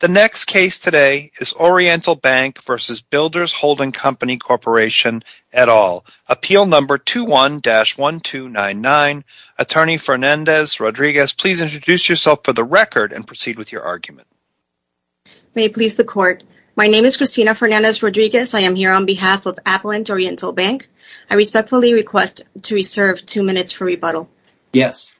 The next case today is Oriental Bank v. Builders Holding Co., Corp. et al. Appeal No. 21-1299. Attorney Fernandez-Rodriguez, please introduce yourself for the record and proceed with your argument. May it please the Court. My name is Cristina Fernandez-Rodriguez. I am here on behalf of Appellant Oriental Bank. I respectfully request to reserve two minutes for rebuttal. Yes.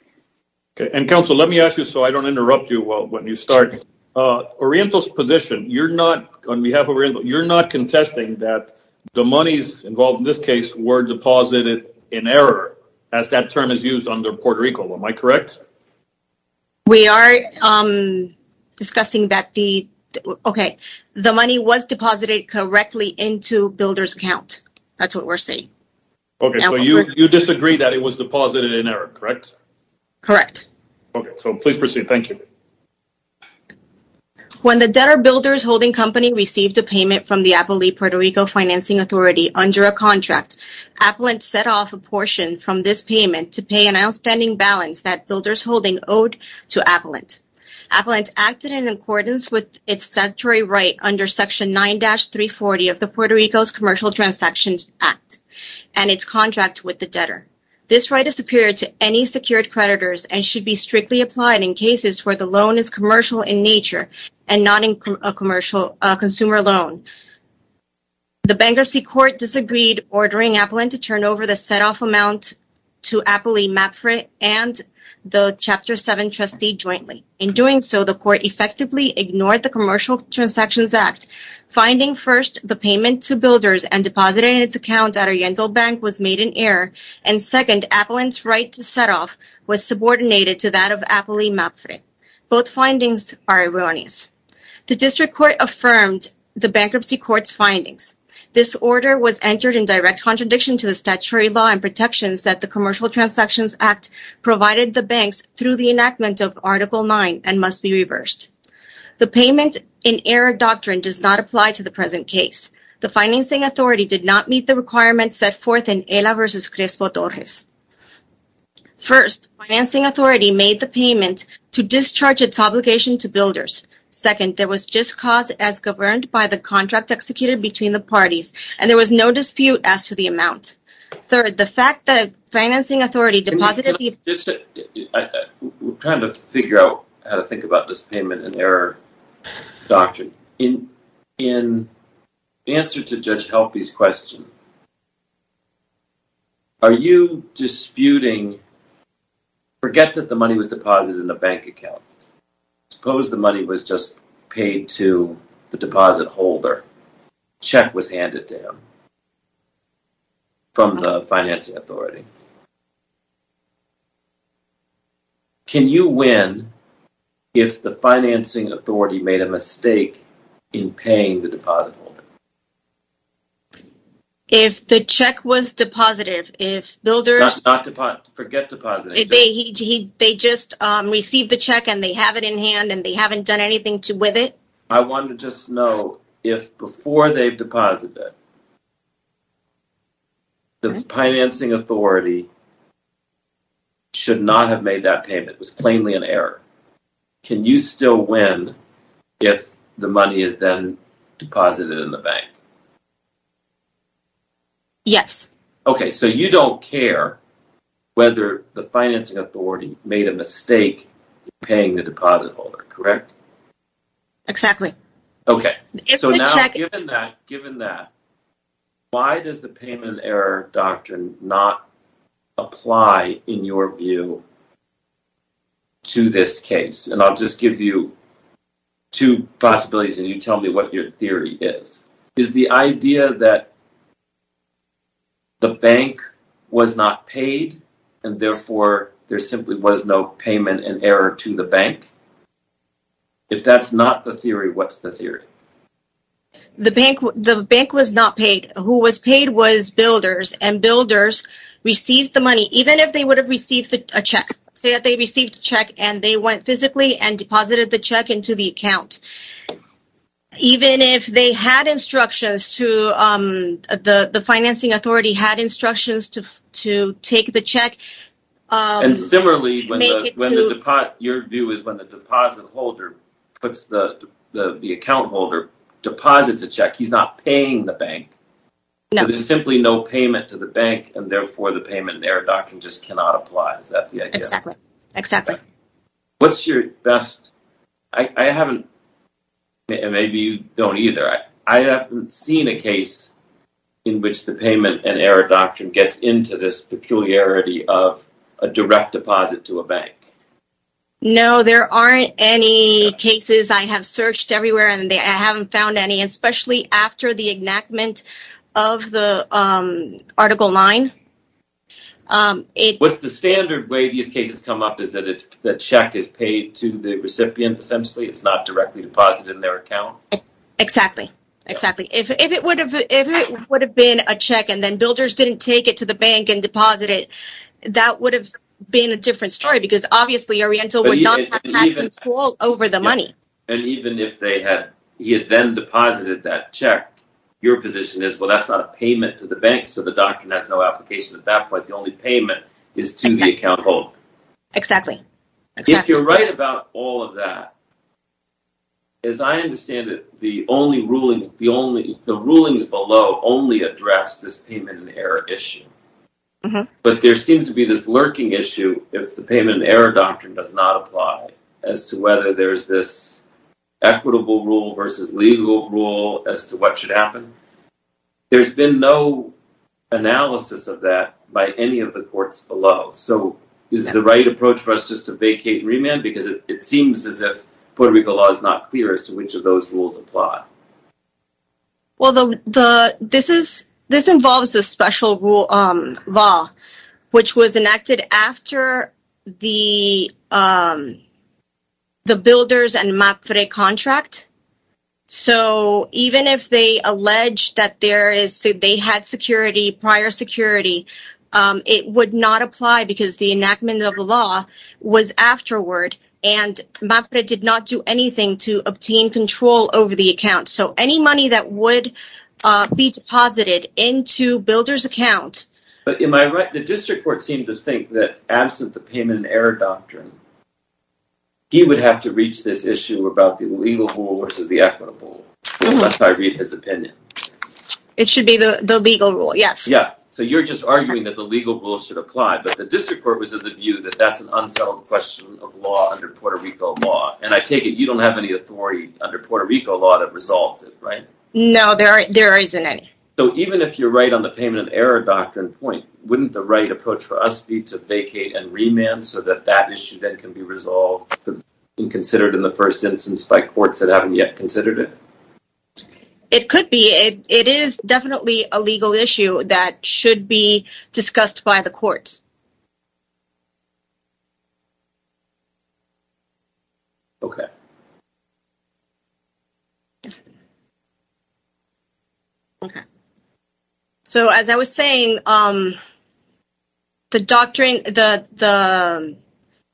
Okay. And, Counsel, let me ask you so I don't interrupt you when you start. Oriental's position, you're not, on behalf of Oriental, you're not contesting that the monies involved in this case were deposited in error, as that term is used under Puerto Rico. Am I correct? We are discussing that the, okay, the money was deposited correctly into Builders' account. That's what we're saying. Okay. So you disagree that it was deposited in error, correct? Correct. Okay. So please proceed. Thank you. When the debtor Builders Holding Company received a payment from the Appellate Puerto Rico Financing Authority under a contract, Appellant set off a portion from this payment to pay an outstanding balance that Builders Holding owed to Appellant. Appellant acted in accordance with its statutory right under Section 9-340 of the Puerto Rico's Commercial Transactions Act and its contract with the debtor. This right is superior to any secured creditors and should be strictly applied in cases where the loan is commercial in nature and not a consumer loan. The bankruptcy court disagreed, ordering Appellant to turn over the set-off amount to Appellate Mapfrit and the Chapter 7 Commercial Transactions Act, finding, first, the payment to Builders and depositing its account at a Yentl bank was made in error, and second, Appellant's right to set-off was subordinated to that of Appellate Mapfrit. Both findings are erroneous. The district court affirmed the bankruptcy court's findings. This order was entered in direct contradiction to the statutory law and protections that the Commercial Transactions Act provided the banks through the in error doctrine does not apply to the present case. The Financing Authority did not meet the requirements set forth in Ela v. Crespo-Torres. First, Financing Authority made the payment to discharge its obligation to Builders. Second, there was just cause as governed by the contract executed between the parties, and there was no dispute as to the amount. Third, the fact that Financing Authority deposited the... We're trying to figure out how to think about this payment in doctrine. In answer to Judge Helpy's question, are you disputing... Forget that the money was deposited in a bank account. Suppose the money was just paid to the deposit holder. Check was handed to him from the Financing Authority. Can you win if the Financing Authority made a mistake in paying the deposit holder? If the check was deposited, if Builders... Not deposit. Forget deposit. They just received the check, and they have it in hand, and they haven't done anything with it? I want to just know if before they've deposited, the Financing Authority should not have made that payment. It was plainly an error. Can you still win if the money is then deposited in the bank? Yes. Okay, so you don't care whether the Financing Authority made a mistake paying the deposit holder, correct? Exactly. Okay, so now given that, given that, why does the payment error doctrine not apply in your view to this case? And I'll just give you two possibilities, and you tell me what your theory is. Is the idea that the bank was not paid, and therefore there simply was no payment and error to the bank? If that's not the theory, what's the theory? The bank was not paid. Who was paid was Builders, and Builders received the money, even if they would have received a check. Say that they received a check, and they went physically and deposited the check into the account. Even if they had instructions to... The Financing Authority, the deposit holder, the account holder deposits a check. He's not paying the bank. There's simply no payment to the bank, and therefore the payment error doctrine just cannot apply. Is that the idea? Exactly, exactly. What's your best... I haven't... Maybe you don't either. I haven't seen a case in which the payment and error doctrine gets into this peculiarity of a direct deposit to a bank. No, there aren't any cases. I have searched everywhere, and I haven't found any, especially after the enactment of the article 9. What's the standard way these cases come up is that the check is paid to the recipient, essentially. It's not directly deposited in their account. Exactly, exactly. If it would have been a check, and then builders didn't take it to the bank and deposit it, that would have been a different story because, obviously, Oriental would not have had control over the money. And even if he had then deposited that check, your position is, well, that's not a payment to the bank, so the doctrine has no application. At that point, the only payment is to the account holder. Exactly. If you're right about all of that, as I understand it, the only rulings below only address this payment and error issue. But there seems to be this lurking issue if the payment and error doctrine does not apply as to whether there's this equitable rule versus legal rule as to what should happen. There's been no analysis of that by any of the courts below. So is the right approach for us just to vacate and remand? Because it seems as if Puerto Rico law is not clear as to which of those rules apply. Well, this involves a special law which was enacted after the builders and MAFRE contract. So even if they allege that they had security, prior security, it would not apply because the enactment of the law was afterward. And MAFRE did not do anything to obtain control over the account. So any money that would be deposited into builder's account... But am I right? The district court seemed to think that absent the payment and error doctrine, he would have to reach this issue about the legal rule versus the equitable rule, unless I read his opinion. It should be the legal rule, yes. Yeah. So you're just arguing that the legal rule should apply, but the district court was of the view that that's an unsettled question of law under Puerto Rico law. And I take it you don't have any authority under Puerto Rico law that resolves it, right? No, there isn't any. So even if you're right on the payment and error doctrine point, wouldn't the right approach for us be to vacate and remand so that that issue then can be resolved and considered in the first instance by courts that haven't yet considered it? It could be. It is definitely a legal issue that should be discussed by the courts. Okay. Okay. So as I was saying, the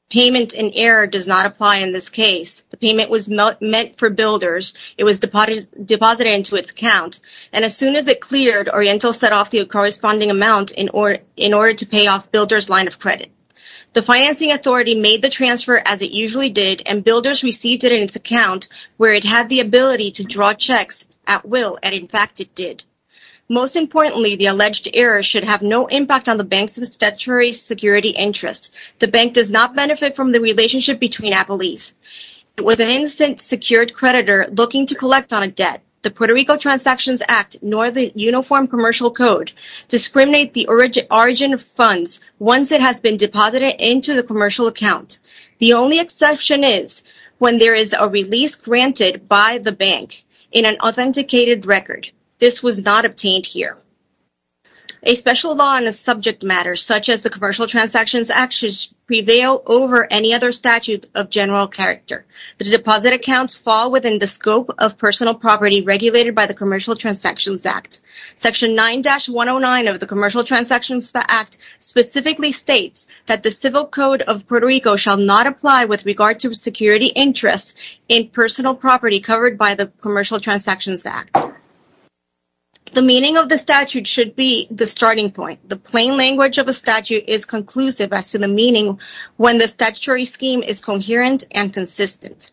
payment and error does not apply in this case. The payment was meant for builders. It was deposited into its account. And as soon as it builders line of credit, the financing authority made the transfer as it usually did and builders received it in its account where it had the ability to draw checks at will. And in fact, it did. Most importantly, the alleged error should have no impact on the bank's statutory security interest. The bank does not benefit from the relationship between Apple East. It was an instant secured creditor looking to collect on a debt, the Puerto Rico transactions act, nor the uniform commercial code discriminate the origin of funds. Once it has been deposited into the commercial account, the only exception is when there is a release granted by the bank in an authenticated record. This was not obtained here. A special law on a subject matter, such as the commercial transactions actions prevail over any other statute of general character. The deposit accounts fall within the scope of personal property regulated by the commercial transactions act. Section 9-109 of the commercial transactions act specifically states that the civil code of Puerto Rico shall not apply with regard to security interests in personal property covered by the commercial transactions act. The meaning of the statute should be the starting point. The plain language of a statute is conclusive as to the meaning when the statutory scheme is coherent and consistent.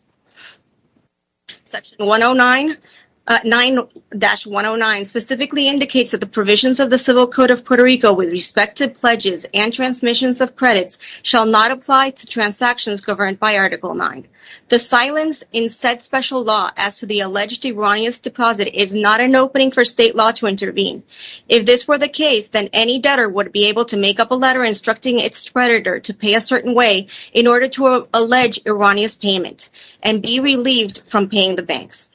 Section 109-109 specifically indicates that the provisions of the civil code of Puerto Rico with respective pledges and transmissions of credits shall not apply to transactions governed by article 9. The silence in said special law as to the alleged erroneous deposit is not an opening for state law to intervene. If this were the case, then any debtor would be able to make up a letter instructing its creditor to pay a certain way in order to allege erroneous payment and be relieved from paying the banks.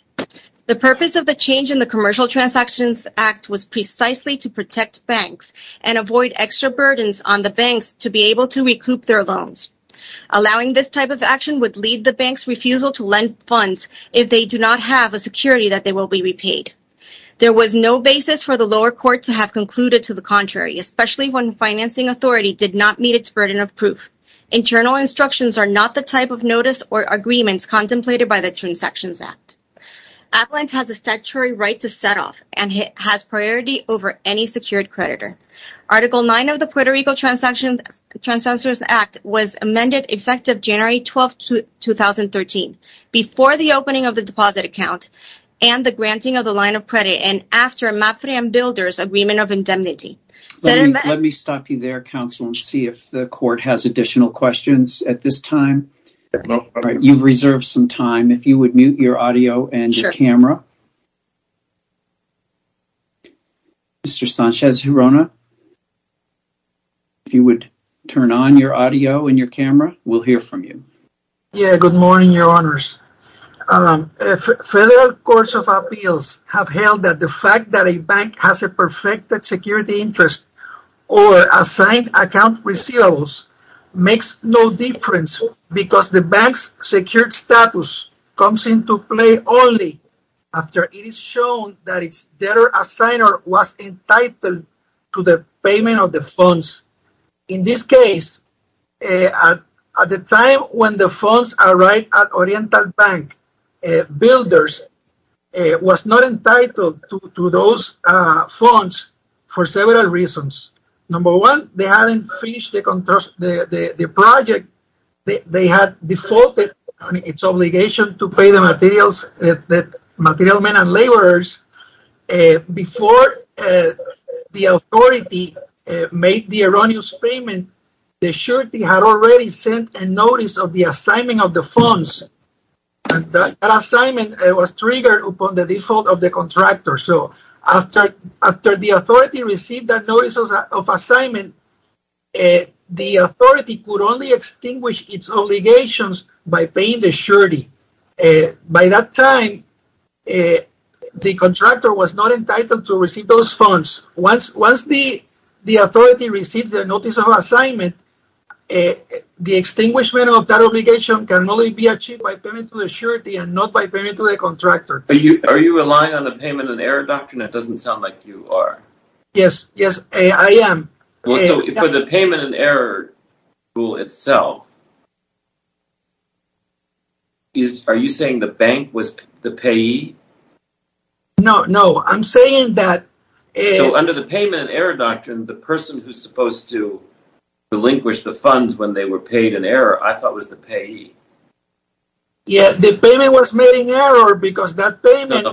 The purpose of the change in the commercial transactions act was precisely to protect banks and avoid extra burdens on the banks to be able to recoup their loans. Allowing this type of action would lead the bank's refusal to lend funds if they do not have a security that they will be repaid. There was no basis for the lower court to have concluded to the contrary, especially when instructions are not the type of notice or agreements contemplated by the transactions act. Avalanche has a statutory right to set off and has priority over any secured creditor. Article 9 of the Puerto Rico transactions act was amended effective January 12, 2013 before the opening of the deposit account and the granting of the line of credit and after Mapfre and Builder's agreement of indemnity. Let me stop you there counsel and see if the time has elapsed. Federal courts of appeals have held that the fact that a bank has a perfected security interest or assigned account receivables makes no difference because the bank's secured status comes into play only after it is shown that its debtor-assigner was entitled to the payment of the funds. In this case, at the time when the funds arrived at Oriental Bank, Builder's was not entitled to those funds for several reasons. Number one, they hadn't finished the project. They had defaulted on its obligation to pay the materials that material men and laborers before the authority made the erroneous payment. The surety had already sent a notice of assignment of the funds and that assignment was triggered upon the default of the contractor. After the authority received that notice of assignment, the authority could only extinguish its obligations by paying the surety. By that time, the contractor was not entitled to receive the funds. Once the authority receives the notice of assignment, the extinguishment of that obligation can only be achieved by payment to the surety and not by payment to the contractor. Are you relying on the payment and error doctrine? That doesn't sound like you are. Yes, I am. For the payment and error rule itself, are you saying the bank was the payee? No, no. I'm saying that... Under the payment and error doctrine, the person who's supposed to relinquish the funds when they were paid in error, I thought was the payee. Yeah, the payment was made in error because that payment...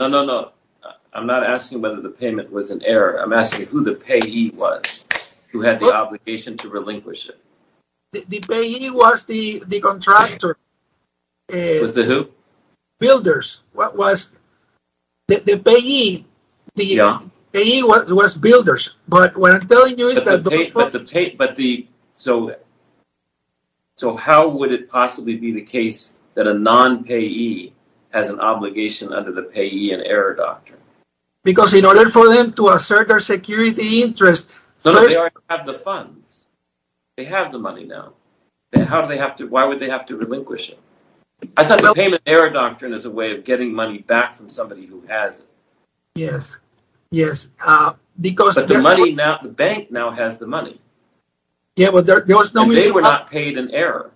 No, no, no. I'm not asking whether the payment was in error. I'm asking who the payee was who had the obligation to relinquish it. The payee was the contractor. It was the who? Builders. The payee was builders. But what I'm telling you is that... So how would it possibly be the case that a non-payee has an obligation under the payee and error doctrine? Because in order for them to assert their security interest... No, no. They already have the funds. They have the money now. Why would they have to relinquish it? I thought the payment error doctrine is a way of getting money back from somebody who has it. Yes, yes. Because the money now... The bank now has the money. Yeah, but there was no mutuality. They were not paid in error.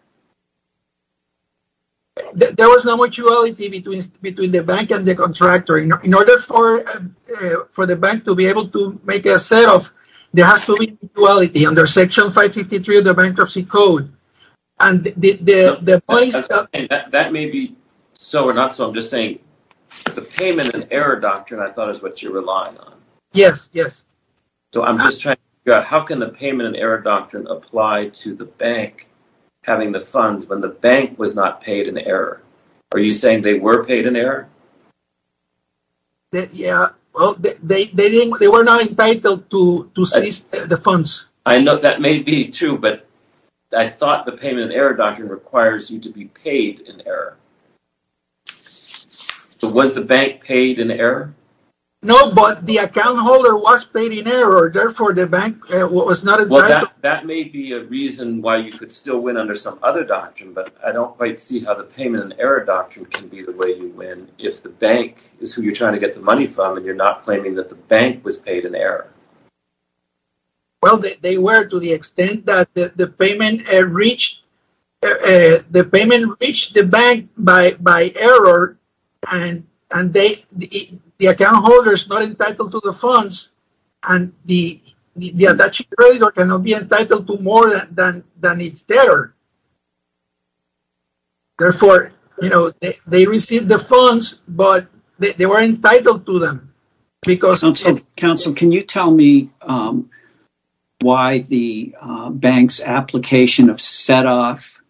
There was no mutuality between the bank and the contractor. In order for the bank to be able to make a set of... There has to be mutuality under Section 553 of the Bankruptcy Code. And the money... That may be so or not. So I'm just saying the payment and error doctrine I thought is what you're relying on. Yes, yes. So I'm just trying to figure out how can the payment and error doctrine apply to the bank having the funds when the bank was not paid in error? Are you saying they were paid in error? Yeah, well, they were not entitled to seize the funds. I know that may be true. But I thought the payment and error doctrine requires you to be paid in error. So was the bank paid in error? No, but the account holder was paid in error. Therefore, the bank was not entitled... That may be a reason why you could still win under some other doctrine. But I don't quite see how the payment and error doctrine can be the way you win if the bank is who you're trying to get the money from and you're not claiming that the bank was paid in error. Well, they were to the extent that the payment reached the bank by error and the account holder is not entitled to the funds and the attaching creditor cannot be entitled to more than it's there. Therefore, they received the funds, but they weren't entitled to them because... Counsel, can you tell me why the bank's application of set-off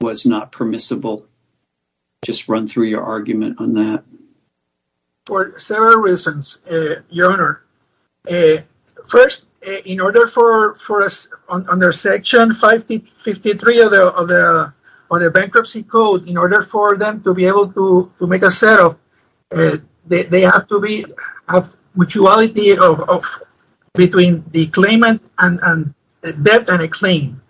was not permissible? Just run through your argument on that. For several reasons, Your Honor. First, in order for us under Section 53 of the Bankruptcy Code, in order for them to be able to make a set-off, there has to be a mutuality between the debt and the claim.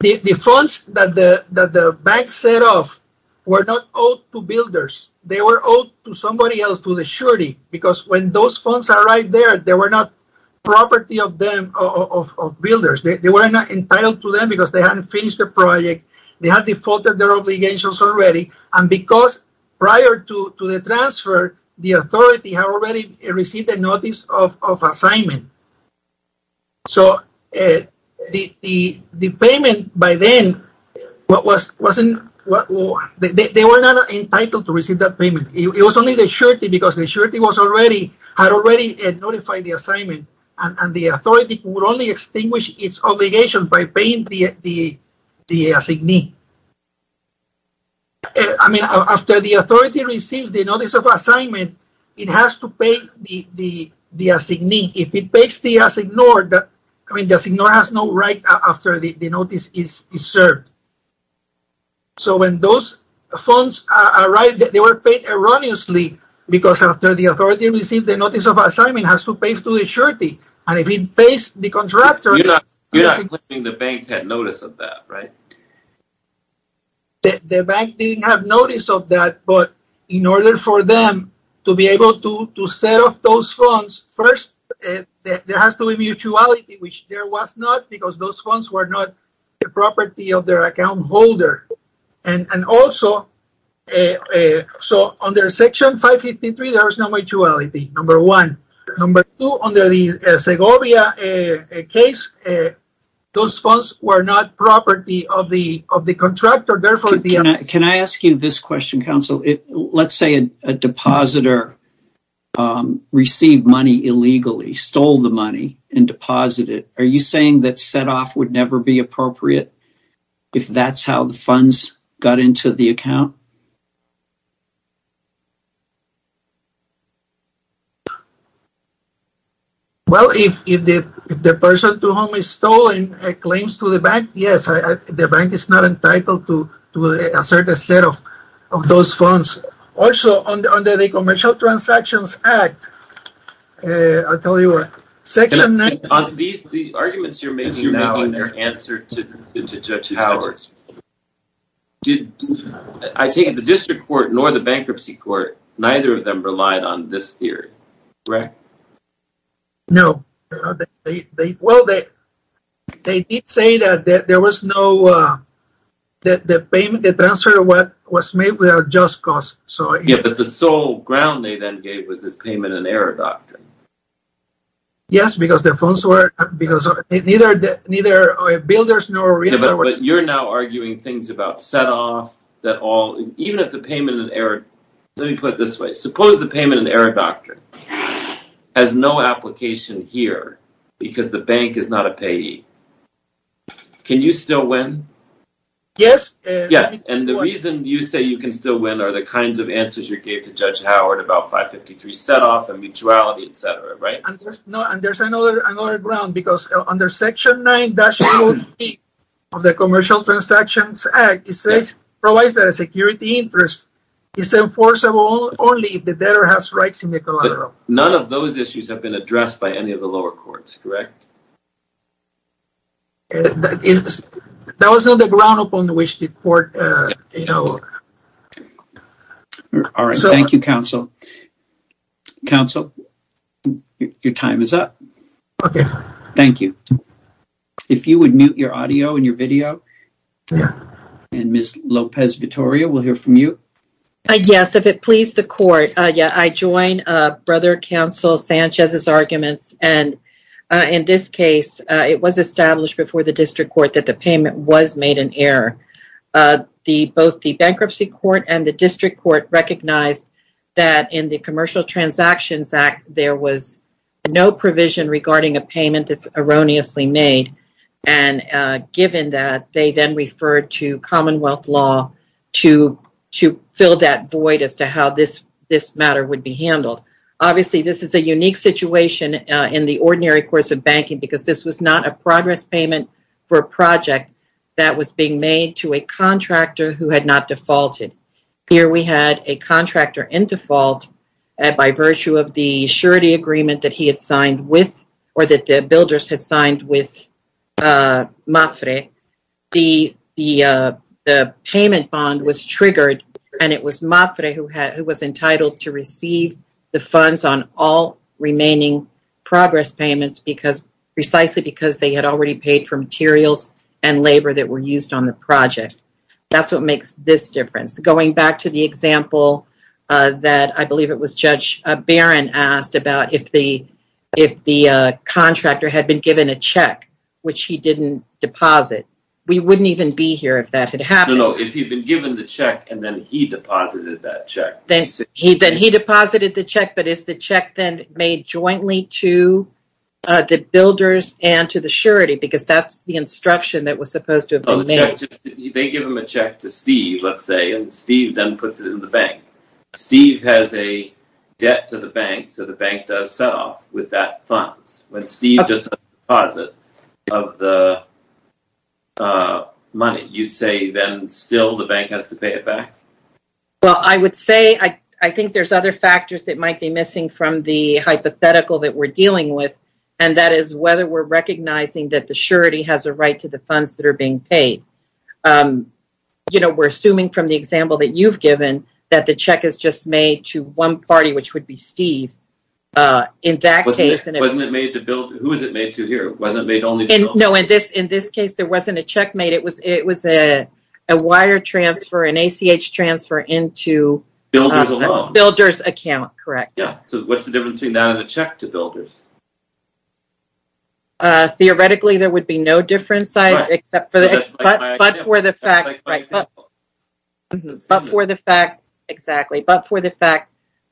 The funds that the bank set off were not owed to builders. They were owed to somebody else, to the surety, because when those funds arrived there, they were not property of builders. They were not entitled to them because they hadn't finished the project, they had defaulted their obligations already, and because prior to the transfer, the authority had already received a notice of assignment. So, the payment by then, they were not entitled to receive that payment. It was only the surety because the surety had already notified the assignment and the authority would only extinguish its obligation by paying the assignee. After the authority receives the notice of assignment, it has to pay the assignee. If it pays the assignor, the assignor has no right after the notice is served. So, when those funds arrived, they were paid erroneously because after the authority received the notice of assignment, it has to pay to the surety, and if it pays the contractor... You're not saying the bank had notice of that, right? The bank didn't have notice of that, but in order for them to be able to set off those funds, first, there has to be mutuality, which there was not because those funds were not the property of their account holder. And also, so, under Section 553, there was no mutuality, number one. Number two, under the Segovia case, those funds were not property of the contractor. Therefore, the... Can I ask you this question, counsel? Let's say a depositor received money illegally, stole the money, and deposited. Are you saying that set off would never be appropriate if that's how the funds got into the account? Well, if the person to whom is stolen claims to the bank, yes. The bank is not entitled to a certain set of those funds. Also, under the Commercial Transactions Act, I'll tell you what, Section 9... On these, the arguments you're making now, and their answer to powers, the District Court nor the Bankruptcy Court, neither of them relied on this theory, correct? No. Well, they did say that there was no... That the payment, the transfer was made without just cause, so... Yeah, but the sole ground they then gave was this payment-in-error doctrine. Yes, because the funds were... Because neither builders nor realtor... But you're now arguing things about set off, that all... Even if the payment-in-error... Let me put it this way. Suppose the payment-in-error doctrine has no application here, because the bank is not a payee. Can you still win? Yes. Yes, and the reason you say you can still win are the kinds of answers you gave to Judge Howard about 553 set off and mutuality, etc., right? And there's another ground, because under Section 9, that should be... The Commercial Transactions Act, it says... Provides that a security interest is enforceable only if the debtor has rights in the collateral. None of those issues have been addressed by any of the lower courts, correct? That was not the ground upon which the court, you know... All right, thank you, Counsel. Counsel, your time is up. Okay. Thank you. If you would mute your audio and your video, and Ms. Lopez-Vittoria will hear from you. Yes, if it please the court. Yeah, I join Brother Counsel Sanchez's arguments, and in this case, it was established before the District Court that the payment was made in error. Both the Bankruptcy Court and the District Court recognized that in the Commercial Transactions Act, there was no provision regarding a payment that's erroneously made, and given that, they then referred to Commonwealth law to fill that void as to how this matter would be handled. Obviously, this is a unique situation in the ordinary course of banking because this was not a progress payment for a project that was being made to a contractor who had not defaulted. Here, we had a contractor in default by virtue of the surety agreement that he had signed with, or that the builders had signed with MAFRE. The payment bond was triggered, and it was MAFRE who was entitled to receive the funds on all remaining progress payments precisely because they had already paid for materials and labor that were used on the project. That's what makes this difference. Going back to the example that I believe it was Judge Barron asked about if the contractor had been given a check, which he didn't deposit. We wouldn't even be here if that had happened. No, if he'd been given the check and then he deposited that check. Then he deposited the check, but is the check then made jointly to the builders and to the surety because that's the instruction that was supposed to have been made. They give him a check to Steve, let's say, and Steve then puts it in the bank. Steve has a debt to the bank, so the bank does set off with that funds. When Steve just deposits of the money, you'd say then still the bank has to pay it back? Well, I would say I think there's other factors that might be missing from the hypothetical that we're dealing with, and that is whether we're recognizing that the surety has a right to the funds that are being paid. We're assuming from the example that you've given that the check is just made to one party, which would be Steve. In that case... Wasn't it made to builders? Who is it made to here? Wasn't it made only to builders? No, in this case, there wasn't a check made. It was a wire transfer, an ACH transfer into... Builders alone. Builders account, correct. Yeah, so what's the difference between that and a check to builders? Theoretically, there would be no difference, except for the fact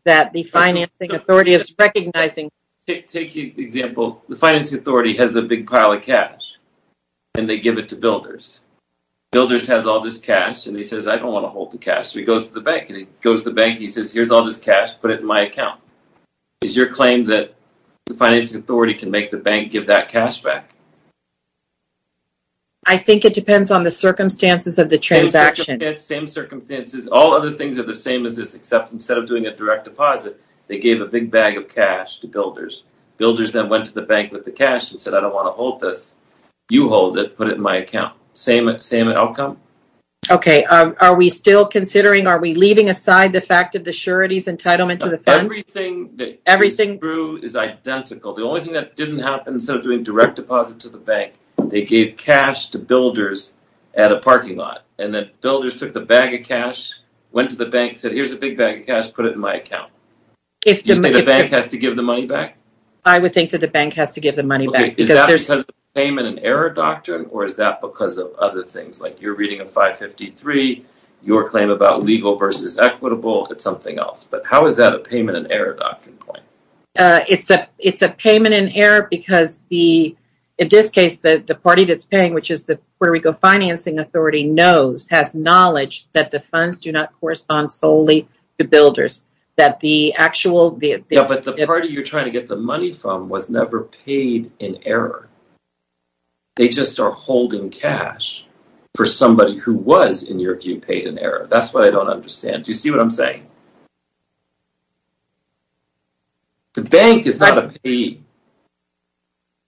that the financing authority is recognizing... Take an example. The financing authority has a big pile of cash, and they give it to builders. Builders has all this cash, and he says, I don't want to hold the cash. So he goes to the bank, and he goes to the bank. He says, here's all this cash, put it in my account. Is your claim that the financing authority can make the bank give that cash back? I think it depends on the circumstances of the transaction. Same circumstances. All other things are the same as this, except instead of doing a direct deposit, they gave a big bag of cash to builders. Builders then went to the bank with the cash and said, I don't want to hold this. You hold it, put it in my account. Same outcome? Okay, are we still considering... Are we leaving aside the fact of the surety's entitlement to the funds? Everything that is true is identical. The only thing that didn't happen, instead of doing direct deposit to the bank, they gave cash to builders at a parking lot. And then builders took the bag of cash, went to the bank, said, here's a big bag of cash, put it in my account. Do you think the bank has to give the money back? I would think that the bank has to give the money back. Is that because of the payment in error doctrine, or is that because of other things? Like you're reading a 553, your claim about legal versus equitable, it's something else. But how is that a payment in error doctrine claim? It's a payment in error because the... The party that's paying, which is the Puerto Rico Financing Authority, knows, has knowledge, that the funds do not correspond solely to builders. That the actual... But the party you're trying to get the money from was never paid in error. They just are holding cash for somebody who was, in your view, paid in error. That's what I don't understand. Do you see what I'm saying? The bank is not a payee.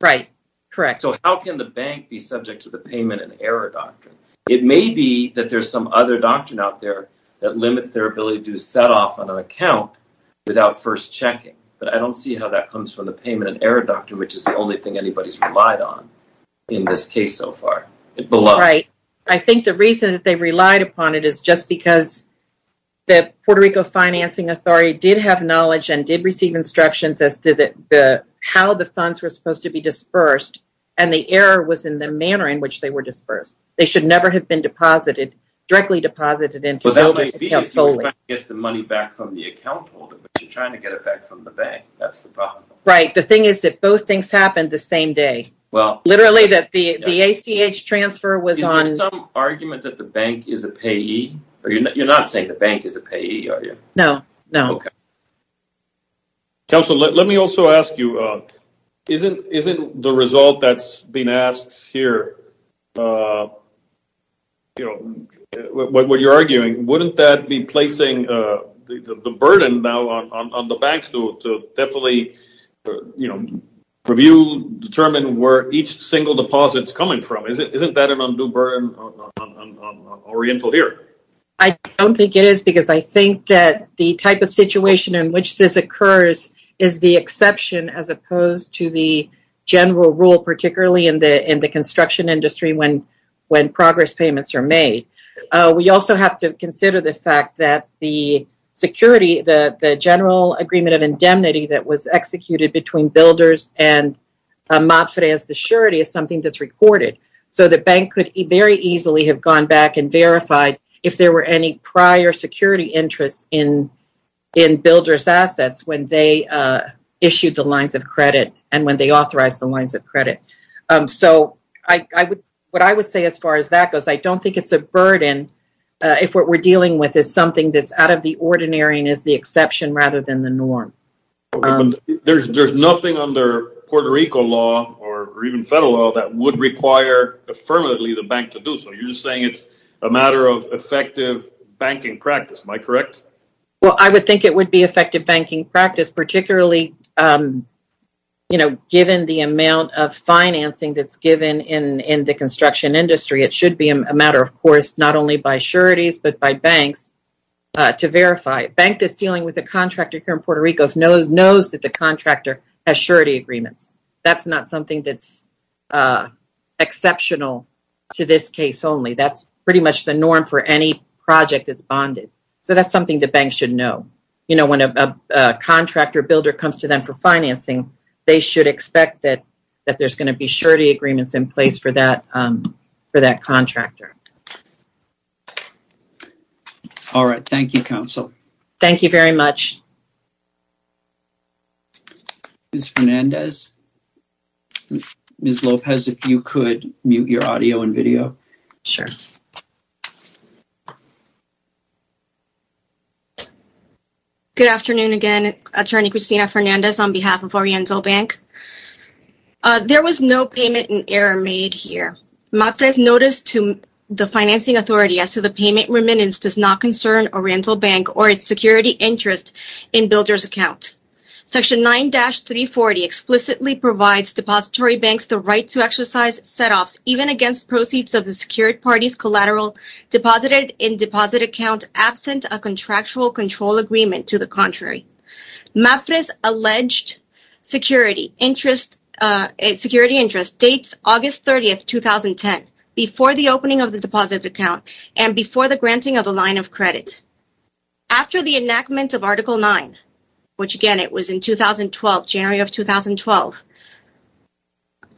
Right, correct. How can the bank be subject to the payment in error doctrine? It may be that there's some other doctrine out there that limits their ability to set off an account without first checking, but I don't see how that comes from the payment in error doctrine, which is the only thing anybody's relied on in this case so far. I think the reason that they relied upon it is just because the Puerto Rico Financing Authority as to how the funds were supposed to be dispersed. The error was in the manner in which they were dispersed. They should never have been deposited, directly deposited into a builder's account solely. You're trying to get the money back from the account holder, but you're trying to get it back from the bank. That's the problem. Right, the thing is that both things happened the same day. Literally, the ACH transfer was on... Is there some argument that the bank is a payee? Or you're not saying the bank is a payee, are you? No, no. Counselor, let me also ask you, isn't the result that's being asked here, what you're arguing, wouldn't that be placing the burden now on the banks to definitely review, determine where each single deposit is coming from? Isn't that an undue burden on Oriental here? I don't think it is, because I think that the type of situation in which this occurs is the exception, as opposed to the general rule, particularly in the construction industry, when progress payments are made. We also have to consider the fact that the security, the general agreement of indemnity that was executed between builders and MAPFRE as the surety is something that's recorded. So the bank could very easily have gone back and verified if there were any prior security interests in builder's assets when they issued the lines of credit and when they authorize the lines of credit. So what I would say as far as that goes, I don't think it's a burden if what we're dealing with is something that's out of the ordinary and is the exception rather than the norm. There's nothing under Puerto Rico law or even federal law that would require affirmatively the bank to do so. You're just saying it's a matter of effective banking practice. Am I correct? Well, I would think it would be effective banking practice, particularly given the amount of financing that's given in the construction industry. It should be a matter, of course, not only by sureties, but by banks to verify. Bank that's dealing with a contractor here in Puerto Rico knows that the contractor has surety agreements. That's not something that's exceptional to this case only. That's pretty much the norm for any project that's bonded. So that's something the bank should know. You know, when a contractor builder comes to them for financing, they should expect that there's going to be surety agreements in place for that contractor. All right. Thank you, counsel. Thank you very much. Ms. Fernandez, Ms. Lopez, if you could mute your audio and video. Sure. Good afternoon, again. Attorney Christina Fernandez on behalf of Oriental Bank. There was no payment in error made here. My first notice to the financing authority as to the payment remittance does not concern Oriental Bank or its security interest in builder's account. Section 9-340 explicitly provides depository banks the right to exercise set-offs even against proceeds of the secured party's collateral deposited in deposit account absent a contractual control agreement to the contrary. MAPFRE's alleged security interest dates August 30th, 2010 before the opening of the deposit account and before the granting of the line of credit. After the enactment of Article 9, which again, it was in January of 2012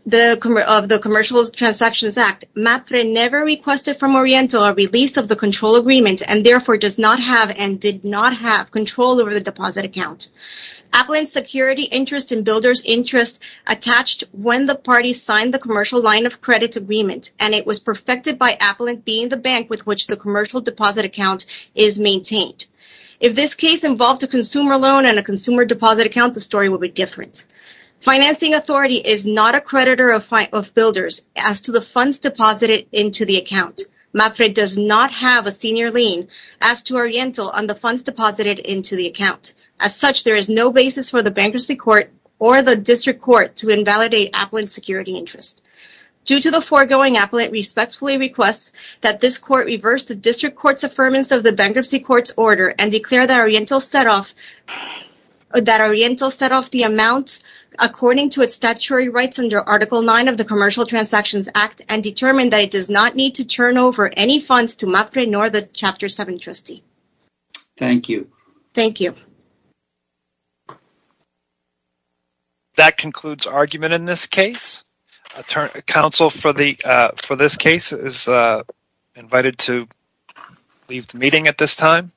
of the Commercial Transactions Act, MAPFRE never requested from Oriental a release of the control agreement and therefore does not have and did not have control over the deposit account. Appellant's security interest and builder's interest attached when the party signed the commercial line of credit agreement and it was perfected by appellant being the bank with which the commercial deposit account is maintained. If this case involved a consumer loan and a consumer deposit account, the story will be different. Financing authority is not a creditor of builders as to the funds deposited into the account. MAPFRE does not have a senior lien as to Oriental on the funds deposited into the account. As such, there is no basis for the bankruptcy court or the district court to invalidate appellant's security interest. Due to the foregoing, appellant respectfully requests that this court reverse the district court's affirmance of the bankruptcy court's order and declare that Oriental set off the amount according to its statutory rights under Article 9 of the Commercial Transactions Act and determine that it does not need to turn over any funds to MAPFRE nor the Chapter 7 trustee. Thank you. Thank you. That concludes argument in this case. Counsel for this case is invited to leave the meeting at this time.